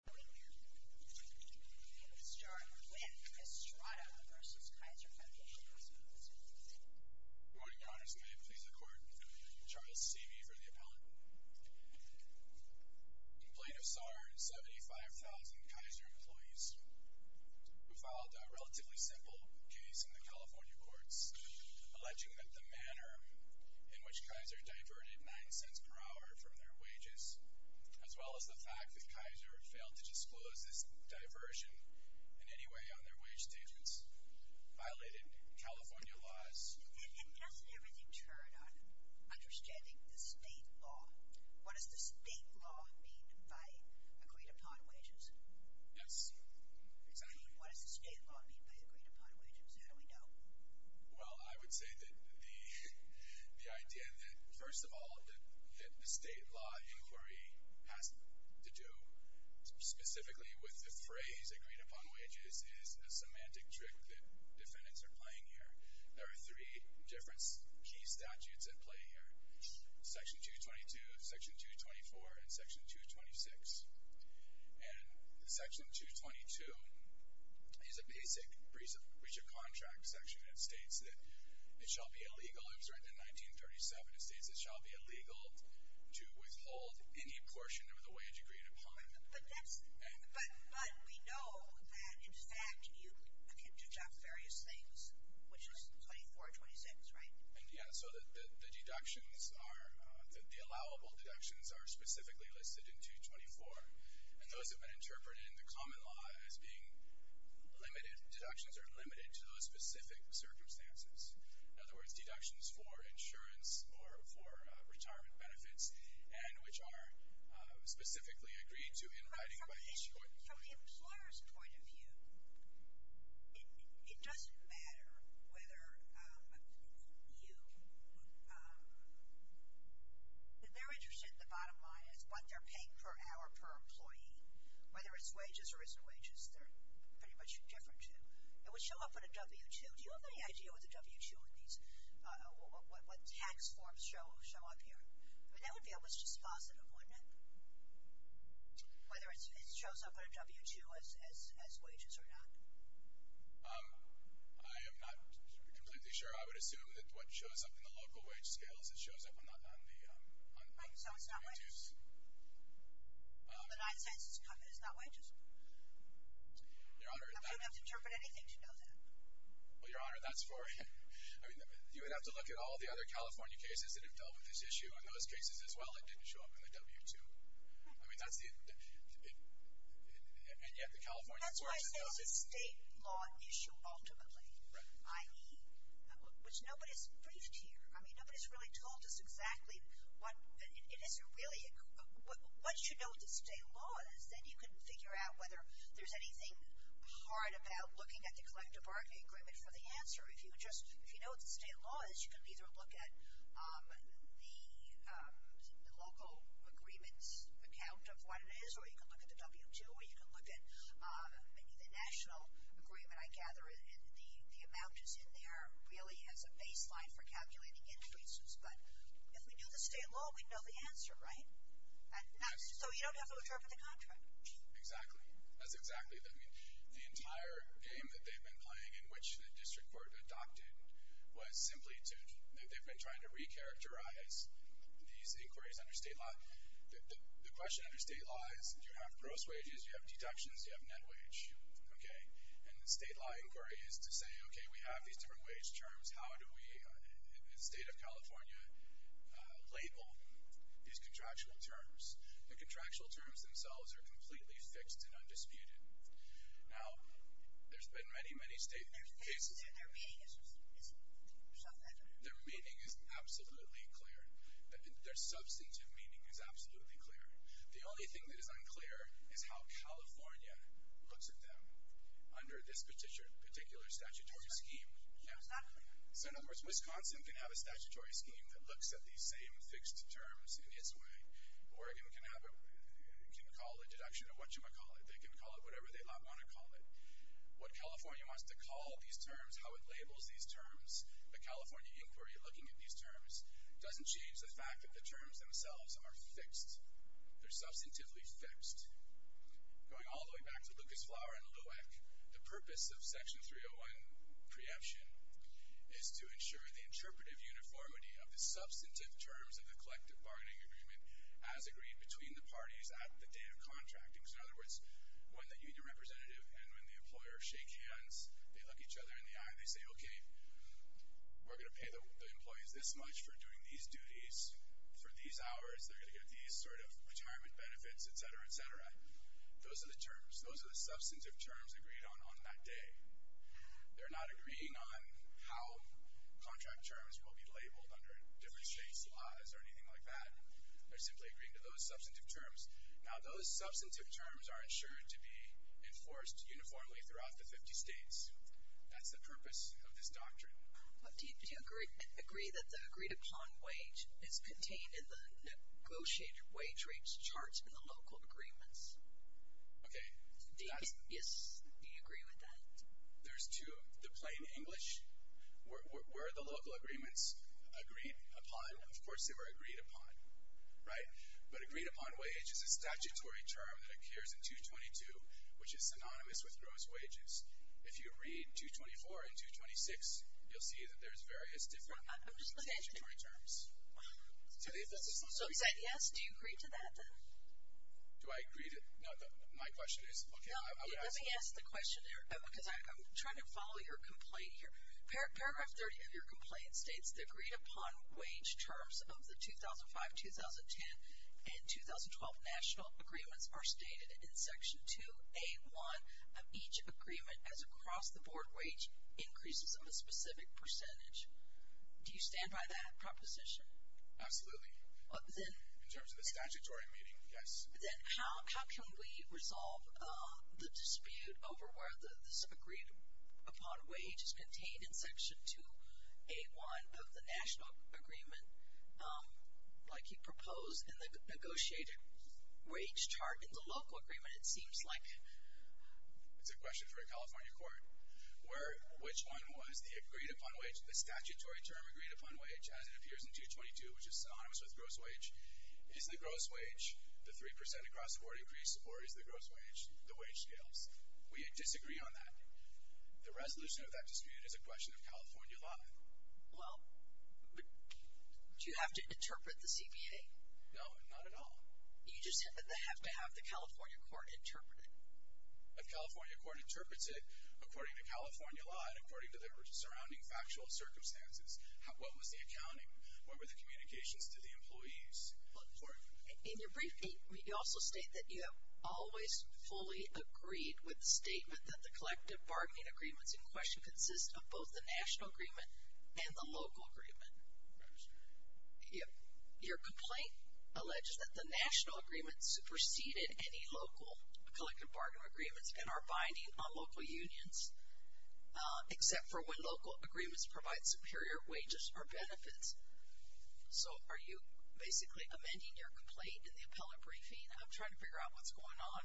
Good morning. I'm here to start a complaint with Estrada v. Kaiser Foundation Hospitals. Good morning, Your Honors. May it please the Court, I'm Charles Seavey for the Appellant. The complaint is of 75,000 Kaiser employees who filed a relatively simple case in the California courts, alleging that the manner in which Kaiser diverted $0.09 per hour from their wages, as well as the fact that Kaiser failed to disclose this diversion in any way on their wage statements, violated California laws. And doesn't everything turn on understanding the state law? What does the state law mean by agreed-upon wages? Yes. What does the state law mean by agreed-upon wages? How do we know? Well, I would say that the idea that, first of all, that the state law inquiry has to do specifically with the phrase agreed-upon wages is a semantic trick that defendants are playing here. There are three different key statutes at play here, Section 222, Section 224, and Section 226. And Section 222 is a basic breach of contract section. It states that it shall be illegal, it was written in 1937, it states it shall be illegal to withhold any portion of the wage agreed upon. But that's, but we know that, in fact, you can deduct various things, which is 24, 26, right? And, yeah, so the deductions are, the allowable deductions are specifically listed in 224. And those have been interpreted in the common law as being limited, deductions are limited to those specific circumstances. In other words, deductions for insurance or for retirement benefits and which are specifically agreed to in writing by each employee. From the employer's point of view, it doesn't matter whether you, if they're interested in the bottom line as what they're paying per hour per employee, whether it's wages or risk wages, they're pretty much indifferent to. It would show up in a W-2. Do you have any idea what the W-2 in these, what tax forms show up here? I mean, that would be almost just positive, wouldn't it? Whether it shows up on a W-2 as wages or not. I am not completely sure. I would assume that what shows up in the local wage scales, it shows up on the W-2s. Right, so it's not wages. The 9 cents is not wages. Your Honor, that's- I'm not going to have to interpret anything to know that. Well, Your Honor, that's for, I mean, you would have to look at all the other California cases that have dealt with this issue. In those cases as well, it didn't show up in the W-2. I mean, that's the, and yet the California courts- That's why I say it's a state law issue ultimately. Right. I.e., which nobody's briefed here. I mean, nobody's really told us exactly what, it isn't really, once you know what the state law is, then you can figure out whether there's anything hard about looking at the collective bargaining agreement for the answer. If you just, if you know what the state law is, you can either look at the local agreements account of what it is, or you can look at the W-2, or you can look at maybe the national agreement, I gather, and the amount is in there really as a baseline for calculating increases. But if we knew the state law, we'd know the answer, right? Yes. So you don't have to interpret the contract. Exactly. That's exactly, I mean, the entire game that they've been playing, in which the district court adopted, was simply to, they've been trying to re-characterize these inquiries under state law. The question under state law is, you have gross wages, you have deductions, you have net wage, okay? And the state law inquiry is to say, okay, we have these different wage terms. How do we, in the state of California, label these contractual terms? The contractual terms themselves are completely fixed and undisputed. Now, there's been many, many cases. Their meaning is substantive. Their meaning is absolutely clear. Their substantive meaning is absolutely clear. The only thing that is unclear is how California looks at them under this particular statutory scheme. It's not clear. So in other words, Wisconsin can have a statutory scheme that looks at these same fixed terms in its way. Oregon can have a, can call a deduction of what you might call it. They can call it whatever they might want to call it. What California wants to call these terms, how it labels these terms, the California inquiry looking at these terms, doesn't change the fact that the terms themselves are fixed. They're substantively fixed. Going all the way back to Lucas Flower and LUEC, the purpose of Section 301 preemption is to ensure the interpretive uniformity of the substantive terms of the collective bargaining agreement as agreed between the parties at the day of contracting. So in other words, when the union representative and when the employer shake hands, they look each other in the eye and they say, okay, we're going to pay the employees this much for doing these duties for these hours. They're going to get these sort of retirement benefits, et cetera, et cetera. Those are the terms. Those are the substantive terms agreed on on that day. They're not agreeing on how contract terms will be labeled under different states' laws or anything like that. They're simply agreeing to those substantive terms. Now, those substantive terms are ensured to be enforced uniformly throughout the 50 states. That's the purpose of this doctrine. Do you agree that the agreed upon wage is contained in the negotiated wage rates chart in the local agreements? Okay. Yes. Do you agree with that? There's two. The plain English, were the local agreements agreed upon? Of course they were agreed upon, right? But agreed upon wage is a statutory term that occurs in 222, which is synonymous with gross wages. If you read 224 and 226, you'll see that there's various different statutory terms. So is that yes? Do you agree to that? Do I agree to it? No, my question is, okay, I would ask. Let me ask the question because I'm trying to follow your complaint here. Paragraph 30 of your complaint states the agreed upon wage terms of the 2005, 2010, and 2012 national agreements are stated in Section 2A1 of each agreement as across-the-board wage increases of a specific percentage. Do you stand by that proposition? Absolutely. In terms of the statutory meaning, yes. Then how can we resolve the dispute over whether this agreed upon wage is contained in Section 2A1 of the national agreement like you proposed in the negotiated wage chart in the local agreement? It seems like it's a question for a California court where which one was the agreed upon wage, the statutory term agreed upon wage as it appears in 222, which is synonymous with gross wage. Is the gross wage the 3% across-the-board increase or is the gross wage the wage scales? We disagree on that. The resolution of that dispute is a question of California law. Well, do you have to interpret the CBA? No, not at all. You just said that they have to have the California court interpret it. A California court interprets it according to California law and according to the surrounding factual circumstances. What was the accounting? What were the communications to the employees? In your brief, you also state that you have always fully agreed with the statement that the collective bargaining agreements in question consist of both the national agreement and the local agreement. Your complaint alleges that the national agreement superseded any local collective bargaining agreements and are binding on local unions except for when local agreements provide superior wages or benefits. So are you basically amending your complaint in the appellate briefing? I'm trying to figure out what's going on.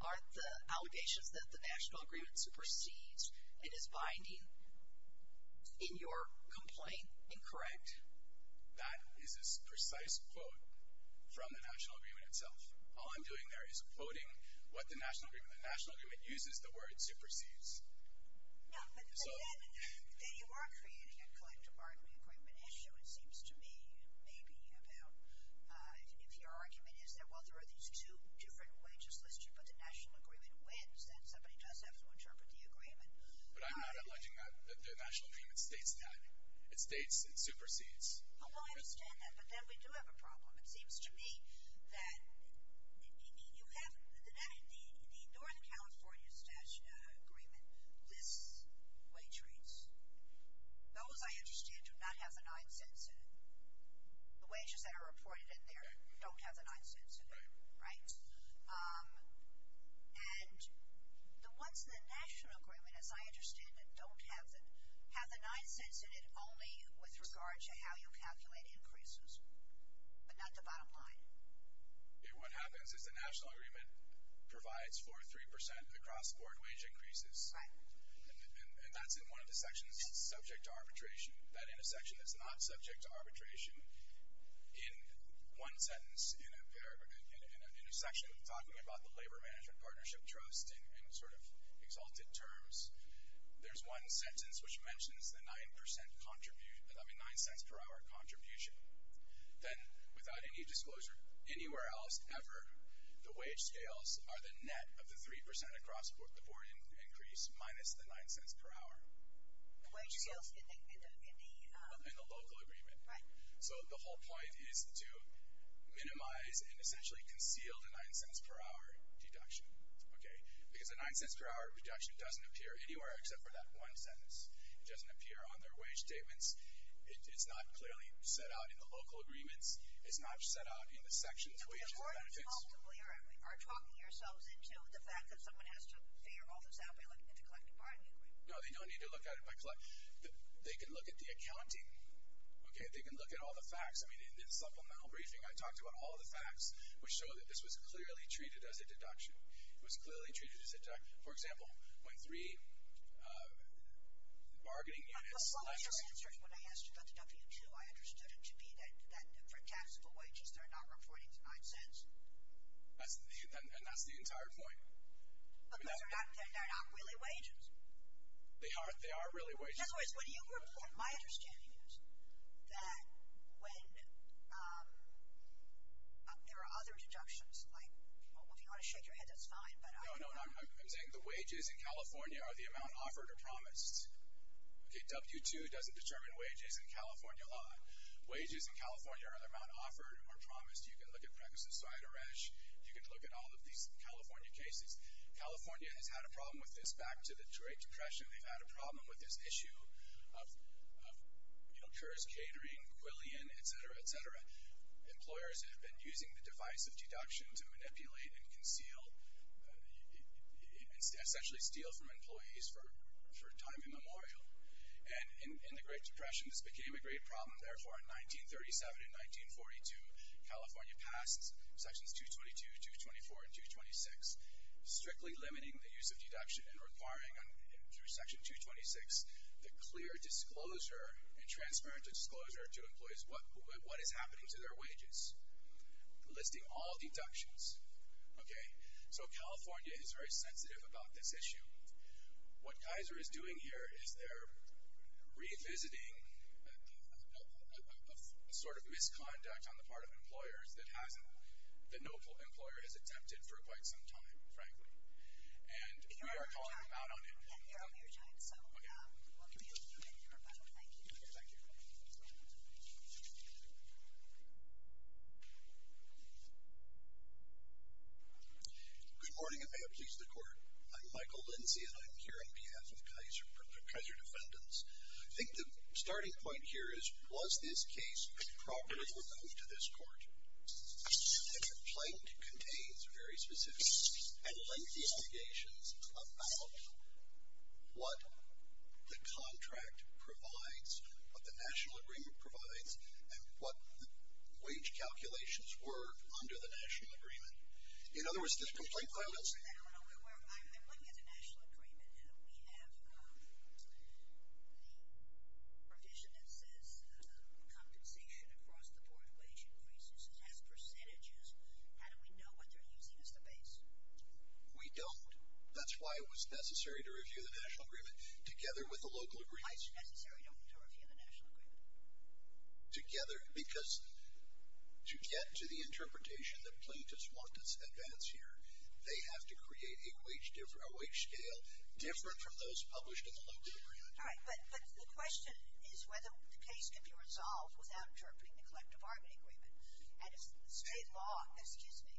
Are the allegations that the national agreement supersedes and is binding in your complaint incorrect? That is a precise quote from the national agreement itself. All I'm doing there is quoting what the national agreement. The national agreement uses the word supersedes. Yeah, but then you are creating a collective bargaining agreement issue, it seems to me, maybe about if your argument is that, well, there are these two different wages listed, but the national agreement wins, then somebody does have to interpret the agreement. But I'm not alleging that the national agreement states that. It states it supersedes. It seems to me that you have the North California Statute Agreement lists wage rates. Those, I understand, do not have the nine cents in it. The wages that are reported in there don't have the nine cents in them, right? And the ones in the national agreement, as I understand it, don't have the nine cents in it, only with regard to how you calculate increases, but not the bottom line. What happens is the national agreement provides for 3% across-board wage increases. Right. And that's in one of the sections that's subject to arbitration. That intersection is not subject to arbitration. In one sentence in a section talking about the Labor-Management Partnership Trust in sort of exalted terms, there's one sentence which mentions the nine cents per hour contribution. Then, without any disclosure anywhere else ever, the wage scales are the net of the 3% across-board increase minus the nine cents per hour. The wage scales in the- In the local agreement. Right. So the whole point is to minimize and essentially conceal the nine cents per hour deduction, okay? Because the nine cents per hour reduction doesn't appear anywhere except for that one sentence. It doesn't appear on their wage statements. It's not clearly set out in the local agreements. It's not set out in the sections' wages and benefits. So you're talking yourself into the fact that someone has to figure all this out by looking into collective bargaining agreements. No, they don't need to look at it by- They can look at the accounting, okay? They can look at all the facts. I mean, in the supplemental briefing, I talked about all the facts which show that this was clearly treated as a deduction. It was clearly treated as a- For example, when three bargaining units- But one of your answers when I asked you about the W-2, I understood it to be that for taxable wages, they're not reporting the nine cents. And that's the entire point. But they're not really wages. They are really wages. In other words, when you report- My understanding is that when there are other deductions, like if you want to shake your head, that's fine, but- No, no, no. I'm saying the wages in California are the amount offered or promised. Okay, W-2 doesn't determine wages in California law. Wages in California are the amount offered or promised. You can look at pregnancy and so on. You can look at all of these California cases. California has had a problem with this back to the Great Depression. They've had a problem with this issue of CURS catering, Quillian, et cetera, et cetera. Employers have been using the device of deduction to manipulate and conceal-essentially steal from employees for time immemorial. And in the Great Depression, this became a great problem. Therefore, in 1937 and 1942, California passed Sections 222, 224, and 226, strictly limiting the use of deduction and requiring, through Section 226, the clear disclosure and transparent disclosure to employees what is happening to their wages, listing all deductions. Okay? So California is very sensitive about this issue. What Kaiser is doing here is they're revisiting a sort of misconduct on the part of employers that hasn't the noble employer has attempted for quite some time, frankly. And we are calling out on it. Thank you for your time. So we'll continue. Thank you for coming. Thank you. Thank you for coming. Thanks for having us. Good morning, and may it please the Court. I'm Michael Lindsay, and I'm here on behalf of Kaiser Defendants. I think the starting point here is, was this case properly removed to this Court? And the complaint contains very specific and lengthy investigations about what the contract provides, what the national agreement provides, and what the wage calculations were under the national agreement. In other words, this complaint violates it. I'm looking at the national agreement, and we have the provision that says the compensation across the board wage increases as percentages. How do we know what they're using as the base? We don't. That's why it was necessary to review the national agreement together with the local agreement. Why is it necessary to review the national agreement? Together, because to get to the interpretation that plaintiffs want to advance here, they have to create a wage scale different from those published in the local agreement. All right. But the question is whether the case can be resolved without interpreting the collective armament agreement. And if the state law, excuse me,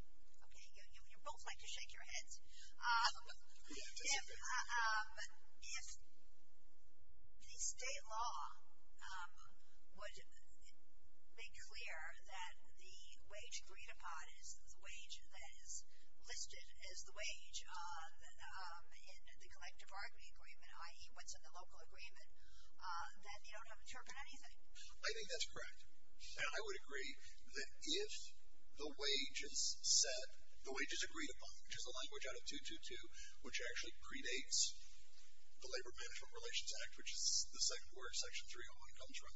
okay, you both like to shake your heads. Yeah, that's okay. If the state law would make clear that the wage agreed upon is the wage that is listed as the wage in the collective argument agreement, i.e., what's in the local agreement, then you don't have to interpret anything. I think that's correct. I would agree that if the wage is said, the wage is agreed upon, which is a language out of 222, which actually predates the Labor Management Relations Act, which is the second word section 301 comes from,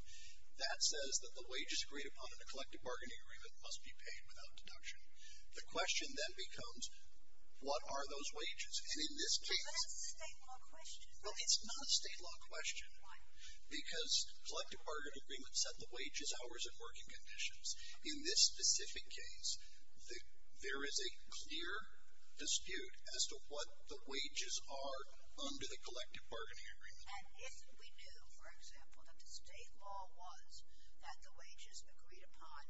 that says that the wage is agreed upon in the collective bargaining agreement must be paid without deduction. The question then becomes, what are those wages? And in this case. But that's a state law question. No, it's not a state law question. Why? Because collective bargaining agreements set the wages, hours, and working conditions. In this specific case, there is a clear dispute as to what the wages are under the collective bargaining agreement. And if we knew, for example, that the state law was that the wages agreed upon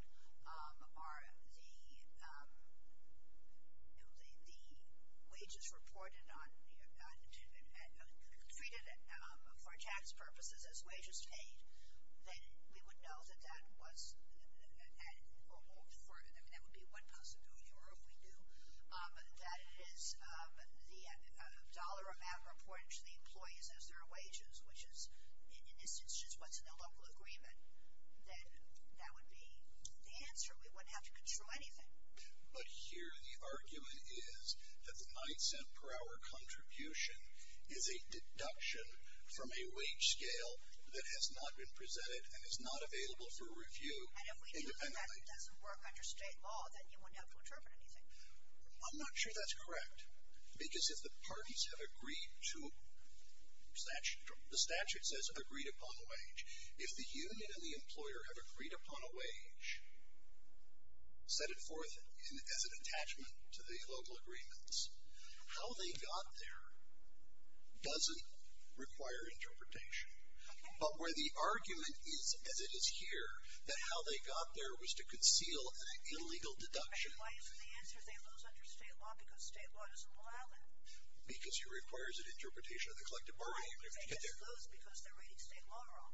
are the wages reported on, and treated for tax purposes as wages paid, then we would know that that was, I mean, that would be one possibility. Or if we knew that it is the dollar amount reported to the employees as their wages, which is, in this instance, what's in the local agreement, then that would be the answer. We wouldn't have to control anything. But here the argument is that the $0.09 per hour contribution is a deduction from a wage scale that has not been presented and is not available for review independently. And if we knew that doesn't work under state law, then you wouldn't have to interpret anything. I'm not sure that's correct. Because if the parties have agreed to, the statute says agreed upon wage. If the union and the employer have agreed upon a wage, set it forth as an attachment to the local agreements, how they got there doesn't require interpretation. But where the argument is, as it is here, that how they got there was to conceal an illegal deduction. But why isn't the answer they lose under state law because state law doesn't allow it? Because it requires an interpretation of the collective bargaining agreement. But they lose because they're writing state law wrong.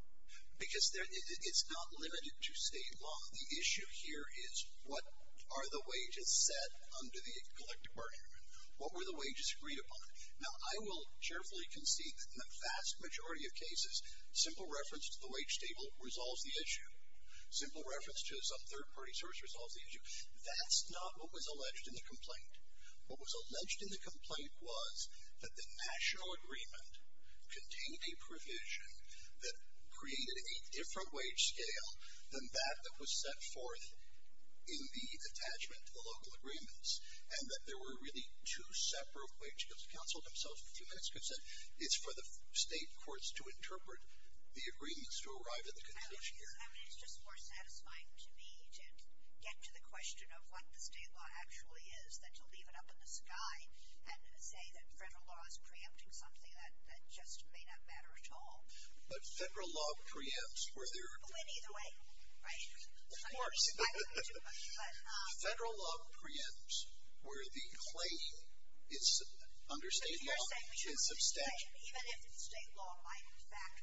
Because it's not limited to state law. The issue here is what are the wages set under the collective bargaining agreement? What were the wages agreed upon? Now, I will carefully concede that in the vast majority of cases, simple reference to the wage table resolves the issue. Simple reference to some third-party source resolves the issue. That's not what was alleged in the complaint. What was alleged in the complaint was that the national agreement contained a provision that created a different wage scale than that that was set forth in the attachment to the local agreements. And that there were really two separate wage tables. The counsel themselves in a few minutes could have said, it's for the state courts to interpret the agreements to arrive at the conclusion. I mean, it's just more satisfying to me to get to the question of what the state law actually is than to leave it up in the sky and say that federal law is preempting something that just may not matter at all. But federal law preempts where there are. Well, either way, right? Of course. Federal law preempts where the claim under state law is substantial. Even if state law might, in fact,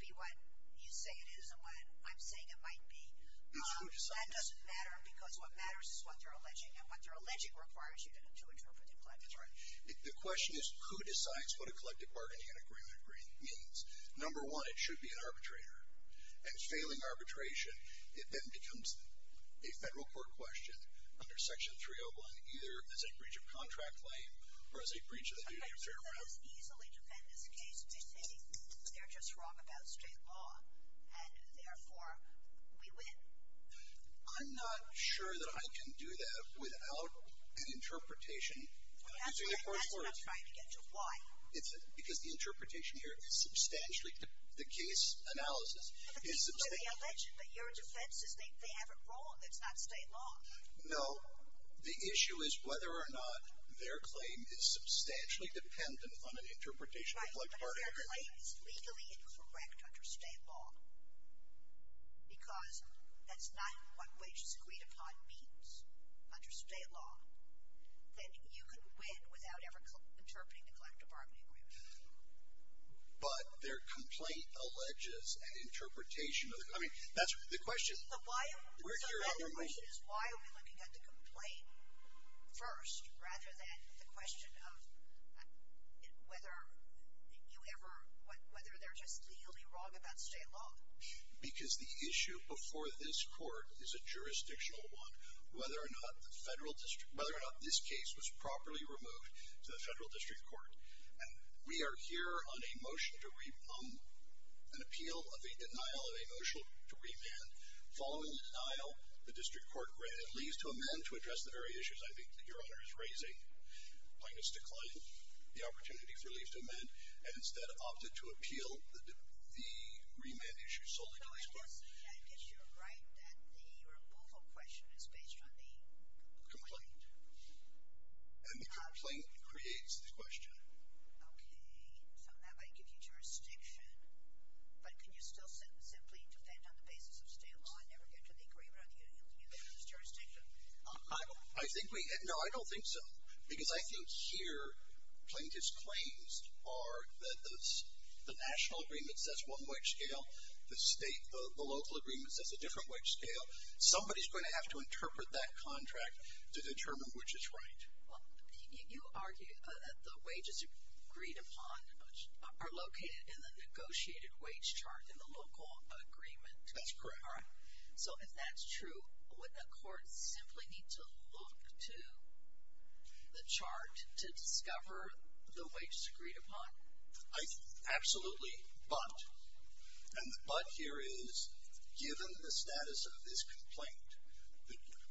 be what you say it is and what I'm saying it might be, that doesn't matter because what matters is what they're alleging. And what they're alleging requires you to interpret the agreement. The question is who decides what a collective bargaining agreement means. Number one, it should be an arbitrator. And failing arbitration, it then becomes a federal court question under Section 301, either as a breach of contract claim or as a breach of the duty of fair trial. But it doesn't as easily defend as a case to say they're just wrong about state law and, therefore, we win. I'm not sure that I can do that without an interpretation. Well, that's what I'm trying to get to. Why? Because the interpretation here is substantial. The case analysis is substantial. But this is what they allege, but your defense is they have it wrong. It's not state law. No. The issue is whether or not their claim is substantially dependent on an interpretation of a collective bargaining agreement. Right. But if their claim is legally incorrect under state law, because that's not what wage-agreed-upon means under state law, then you can win without ever interpreting a collective bargaining agreement. But their complaint alleges an interpretation of the claim. I mean, that's the question. So the question is why are we looking at the complaint first rather than the question of whether you ever ‑‑ whether they're just legally wrong about state law? Because the issue before this court is a jurisdictional one, whether or not this case was properly removed to the federal district court. We are here on a motion to repeal an appeal of a denial of a motion to remand. Following the denial, the district court granted leave to amend to address the very issues I think that your Honor is raising. Plaintiff's declined the opportunity for leave to amend and instead opted to appeal the remand issue solely to this court. But I guess you're right that the removal question is based on the complaint. And the complaint creates the question. Okay. So that might give you jurisdiction. But can you still simply defend on the basis of state law and never get to the agreement on the appeal? Do you think that's jurisdiction? I think we ‑‑ no, I don't think so. Because I think here plaintiff's claims are that the national agreement says one wage scale, the state, the local agreement says a different wage scale. So somebody's going to have to interpret that contract to determine which is right. You argue that the wages agreed upon are located in the negotiated wage chart in the local agreement. That's correct. All right. So if that's true, would the court simply need to look to the chart to discover the wages agreed upon? Absolutely. But, and the but here is given the status of this complaint,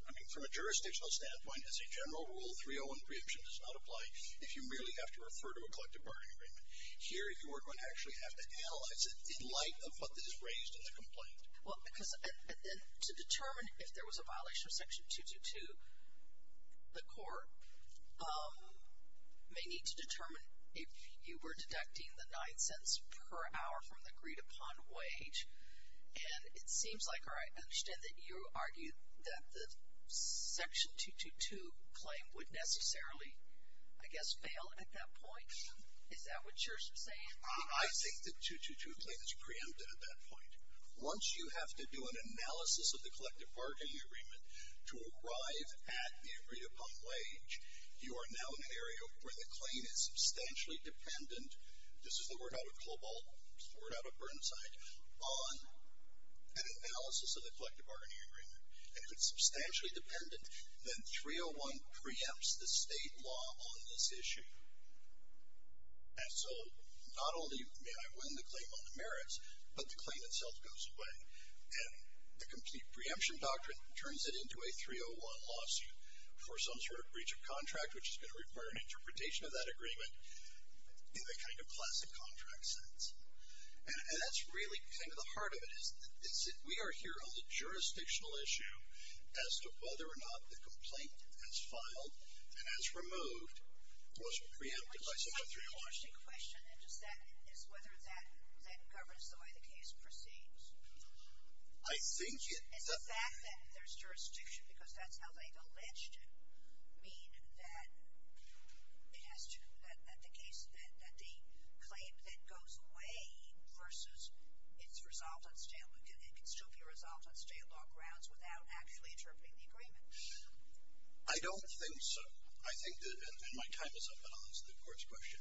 I mean, from a jurisdictional standpoint, as a general rule, 301 preemption does not apply if you merely have to refer to a collective bargaining agreement. Here you are going to actually have to analyze it in light of what is raised in the complaint. Well, because then to determine if there was a violation of Section 222, the court may need to determine if you were deducting the nine cents per hour from the agreed upon wage. And it seems like, or I understand that you argue that the Section 222 claim would necessarily, I guess, fail at that point. Is that what you're saying? I think the 222 claim is preempted at that point. Once you have to do an analysis of the collective bargaining agreement to arrive at the agreed upon wage, you are now in an area where the claim is substantially dependent. This is the word out of Cobalt, the word out of Burnside, on an analysis of the collective bargaining agreement. If it's substantially dependent, then 301 preempts the state law on this issue. And so not only may I win the claim on the merits, but the claim itself goes away. And the complete preemption doctrine turns it into a 301 lawsuit for some sort of breach of contract, which is going to require an interpretation of that agreement in a kind of classic contract sense. And that's really kind of the heart of it is that we are here on the jurisdictional issue as to whether or not the complaint as filed and as removed was preempted by Secretary Washington. I have a question. Is whether that governs the way the case proceeds? I think it does. Is the fact that there's jurisdiction, because that's how they've alleged it, mean that it has to, that the case, that the claim then goes away versus it's resolved on state, state law grounds without actually interpreting the agreement? I don't think so. I think that, and my time is up, but I'll answer the court's question.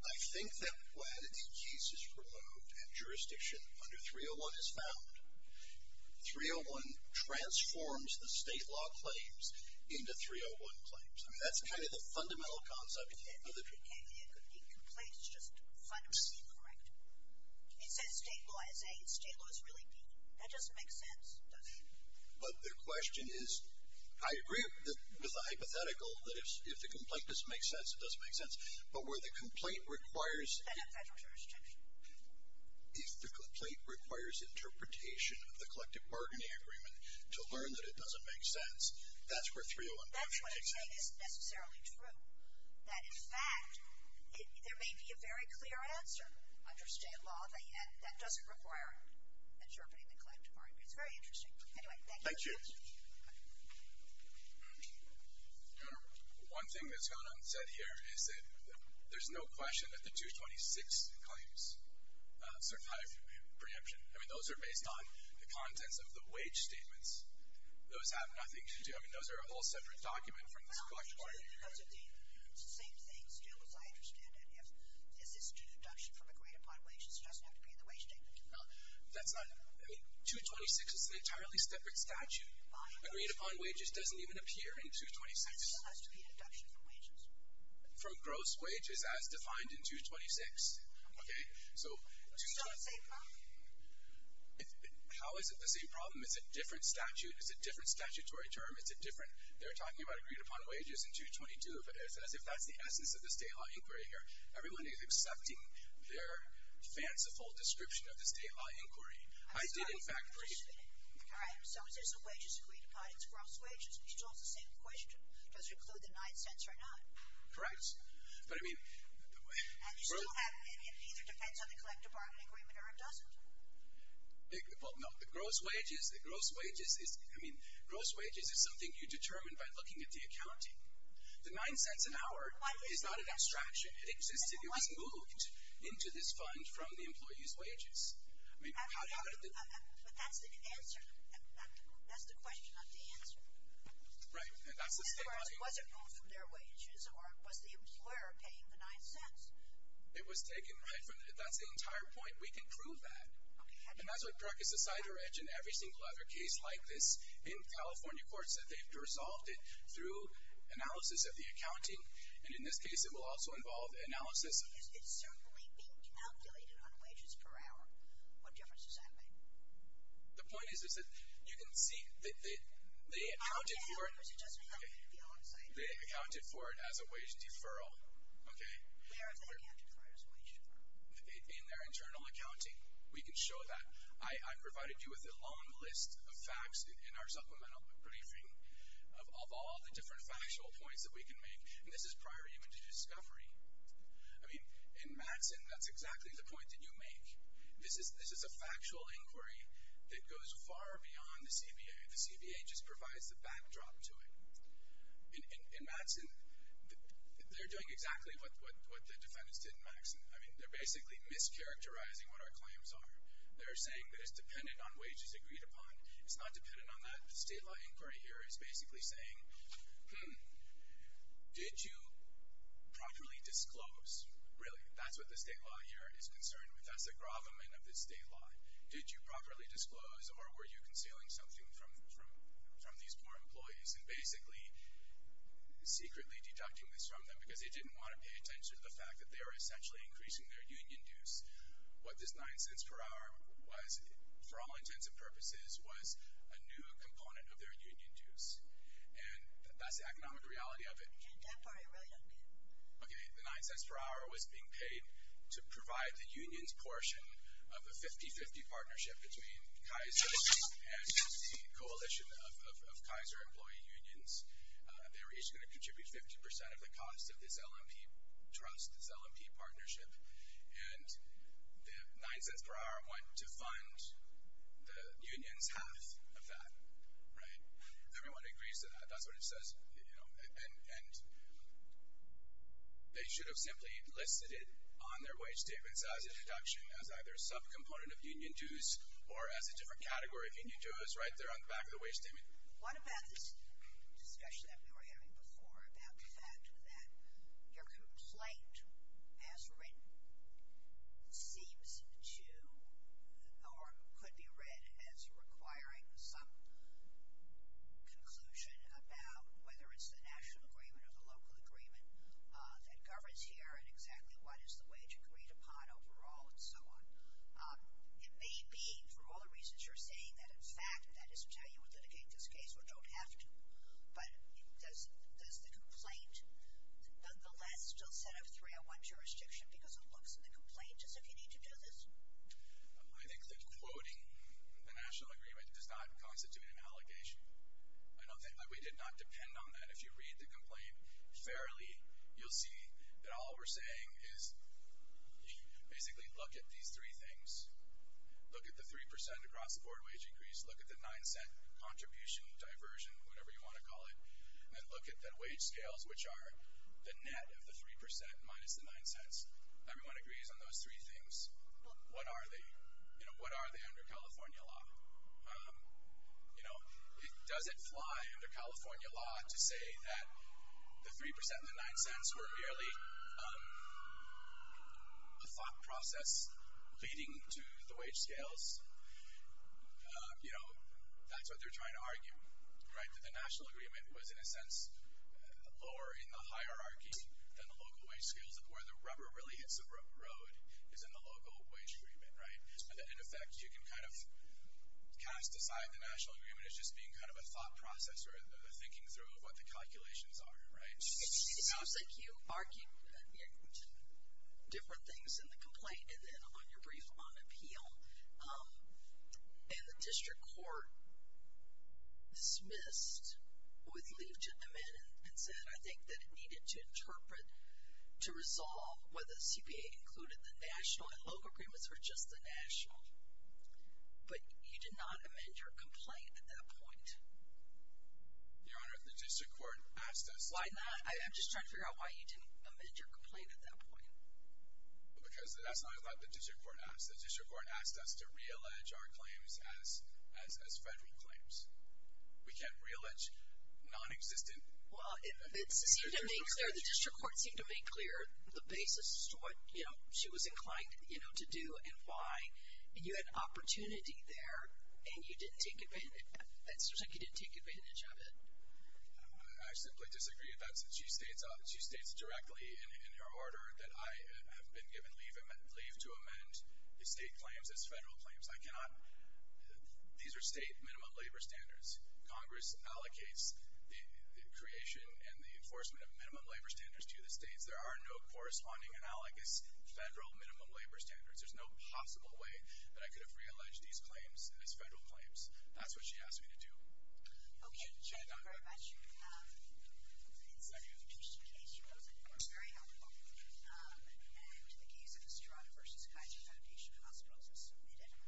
I think that when a case is removed and jurisdiction under 301 is found, 301 transforms the state law claims into 301 claims. I mean, that's kind of the fundamental concept of the case. It could be a complaint. It's just fundamentally incorrect. It says state law is A, and state law is really B. That doesn't make sense, does it? But the question is, I agree with the hypothetical that if the complaint doesn't make sense, it doesn't make sense, but where the complaint requires. And then federal jurisdiction. If the complaint requires interpretation of the collective bargaining agreement to learn that it doesn't make sense, that's where 301 doesn't make sense. That's what you're saying isn't necessarily true. That, in fact, there may be a very clear answer under state law, and that doesn't require interpreting the collective bargaining agreement. It's very interesting. Anyway, thank you. Thank you. One thing that's gone unsaid here is that there's no question that the 226 claims survive preemption. I mean, those are based on the contents of the wage statements. Those have nothing to do. It's the same thing still as I understand it. If this is due to deduction from agreed upon wages, it doesn't have to be in the wage statement. No, that's not. I mean, 226 is an entirely separate statute. Agreed upon wages doesn't even appear in 226. It still has to be deduction from wages. From gross wages as defined in 226. Okay. So, 226. It's not the same problem. How is it the same problem? It's a different statute. It's a different statutory term. It's a different. They're talking about agreed upon wages in 222 as if that's the essence of the state law inquiry here. Everyone is accepting their fanciful description of the state law inquiry. I did, in fact. All right. So, is this a wages agreed upon? It's gross wages. It's still the same question. Does it include the nine cents or not? Correct. But, I mean. And you still have it either depends on the collective bargaining agreement or it doesn't. Well, no. Gross wages is something you determine by looking at the accounting. The nine cents an hour is not an abstraction. It existed. It was moved into this fund from the employee's wages. But that's the answer. That's the question, not the answer. Right. And that's the state money. In other words, was it moved from their wages or was the employer paying the nine cents? It was taken right from. That's the entire point. We can prove that. Okay. And that's what practice aside, or as in every single other case like this, in California courts that they've resolved it through analysis of the accounting. And in this case, it will also involve analysis. It's certainly being calculated on wages per hour. What difference does that make? The point is, is that you can see that they accounted for it. It doesn't have to be on site. They accounted for it as a wage deferral. Okay. Where have they accounted for it as a wage deferral? In their internal accounting. We can show that. I provided you with a long list of facts in our supplemental briefing of all the different factual points that we can make. And this is prior even to discovery. I mean, in Madsen, that's exactly the point that you make. This is a factual inquiry that goes far beyond the CBA. The CBA just provides the backdrop to it. I mean, they're basically mischaracterizing what our claims are. They're saying that it's dependent on wages agreed upon. It's not dependent on that. The state law inquiry here is basically saying, did you properly disclose? Really, that's what the state law here is concerned with. That's the gravamen of the state law. Did you properly disclose or were you concealing something from these poor employees and basically secretly deducting this from them because they didn't want to pay attention to the fact that they were essentially increasing their union dues? What this $0.09 per hour was, for all intents and purposes, was a new component of their union dues. And that's the economic reality of it. You can't buy a million people. Okay, the $0.09 per hour was being paid to provide the unions portion of a 50-50 partnership between Kaiser and the coalition of Kaiser employee unions. They were each going to contribute 50% of the cost of this L&P trust, this L&P partnership. And the $0.09 per hour went to fund the union's half of that, right? Everyone agrees to that. That's what it says. And they should have simply listed it on their wage statements as a deduction, as either a subcomponent of union dues or as a different category of union dues right there on the back of the wage statement. What about this discussion that we were having before about the fact that your complaint as written seems to or could be read as requiring some conclusion about whether it's the national agreement or the local agreement that governs here and exactly what is the wage agreed upon overall and so on? It may be, for all the reasons you're saying, that, in fact, that is to tell you we'll litigate this case. We don't have to. But does the complaint nonetheless still set up three-on-one jurisdiction because it looks in the complaint as if you need to do this? I think that quoting the national agreement does not constitute an allegation. We did not depend on that. If you read the complaint fairly, you'll see that all we're saying is basically look at these three things. Look at the 3% across-the-board wage increase. Look at the 9-cent contribution diversion, whatever you want to call it, and look at the wage scales, which are the net of the 3% minus the 9 cents. Everyone agrees on those three things. But what are they? What are they under California law? Does it fly under California law to say that the 3% and the 9 cents were merely a thought process leading to the wage scales? You know, that's what they're trying to argue, right, that the national agreement was, in a sense, lower in the hierarchy than the local wage scales, that where the rubber really hits the road is in the local wage agreement, right, and that, in effect, you can kind of cast aside the national agreement as just being kind of a thought process or a thinking through of what the calculations are, right? It seems like you argued different things in the complaint and then on your brief on appeal, and the district court dismissed with leave to amend and said, I think, that it needed to interpret to resolve whether CPA included the national and local agreements or just the national. But you did not amend your complaint at that point. Your Honor, the district court asked us. Why not? I'm just trying to figure out why you didn't amend your complaint at that point. Because that's not what the district court asked. The district court asked us to re-allege our claims as federal claims. We can't re-allege nonexistent. Well, it seemed to make clear, the district court seemed to make clear the basis to what, you know, she was inclined, you know, to do and why, and you had opportunity there and you didn't take advantage. It seems like you didn't take advantage of it. I simply disagree. That's what she states. She states directly in her order that I have been given leave to amend the state claims as federal claims. I cannot. These are state minimum labor standards. Congress allocates the creation and the enforcement of minimum labor standards to the states. There are no corresponding analogous federal minimum labor standards. There's no possible way that I could have re-alleged these claims as federal claims. That's what she asked me to do. Okay. Thank you very much. It's an interesting case. It was, of course, very helpful. And the case of Estrada v. Kaiser Foundation Hospitals is submitted.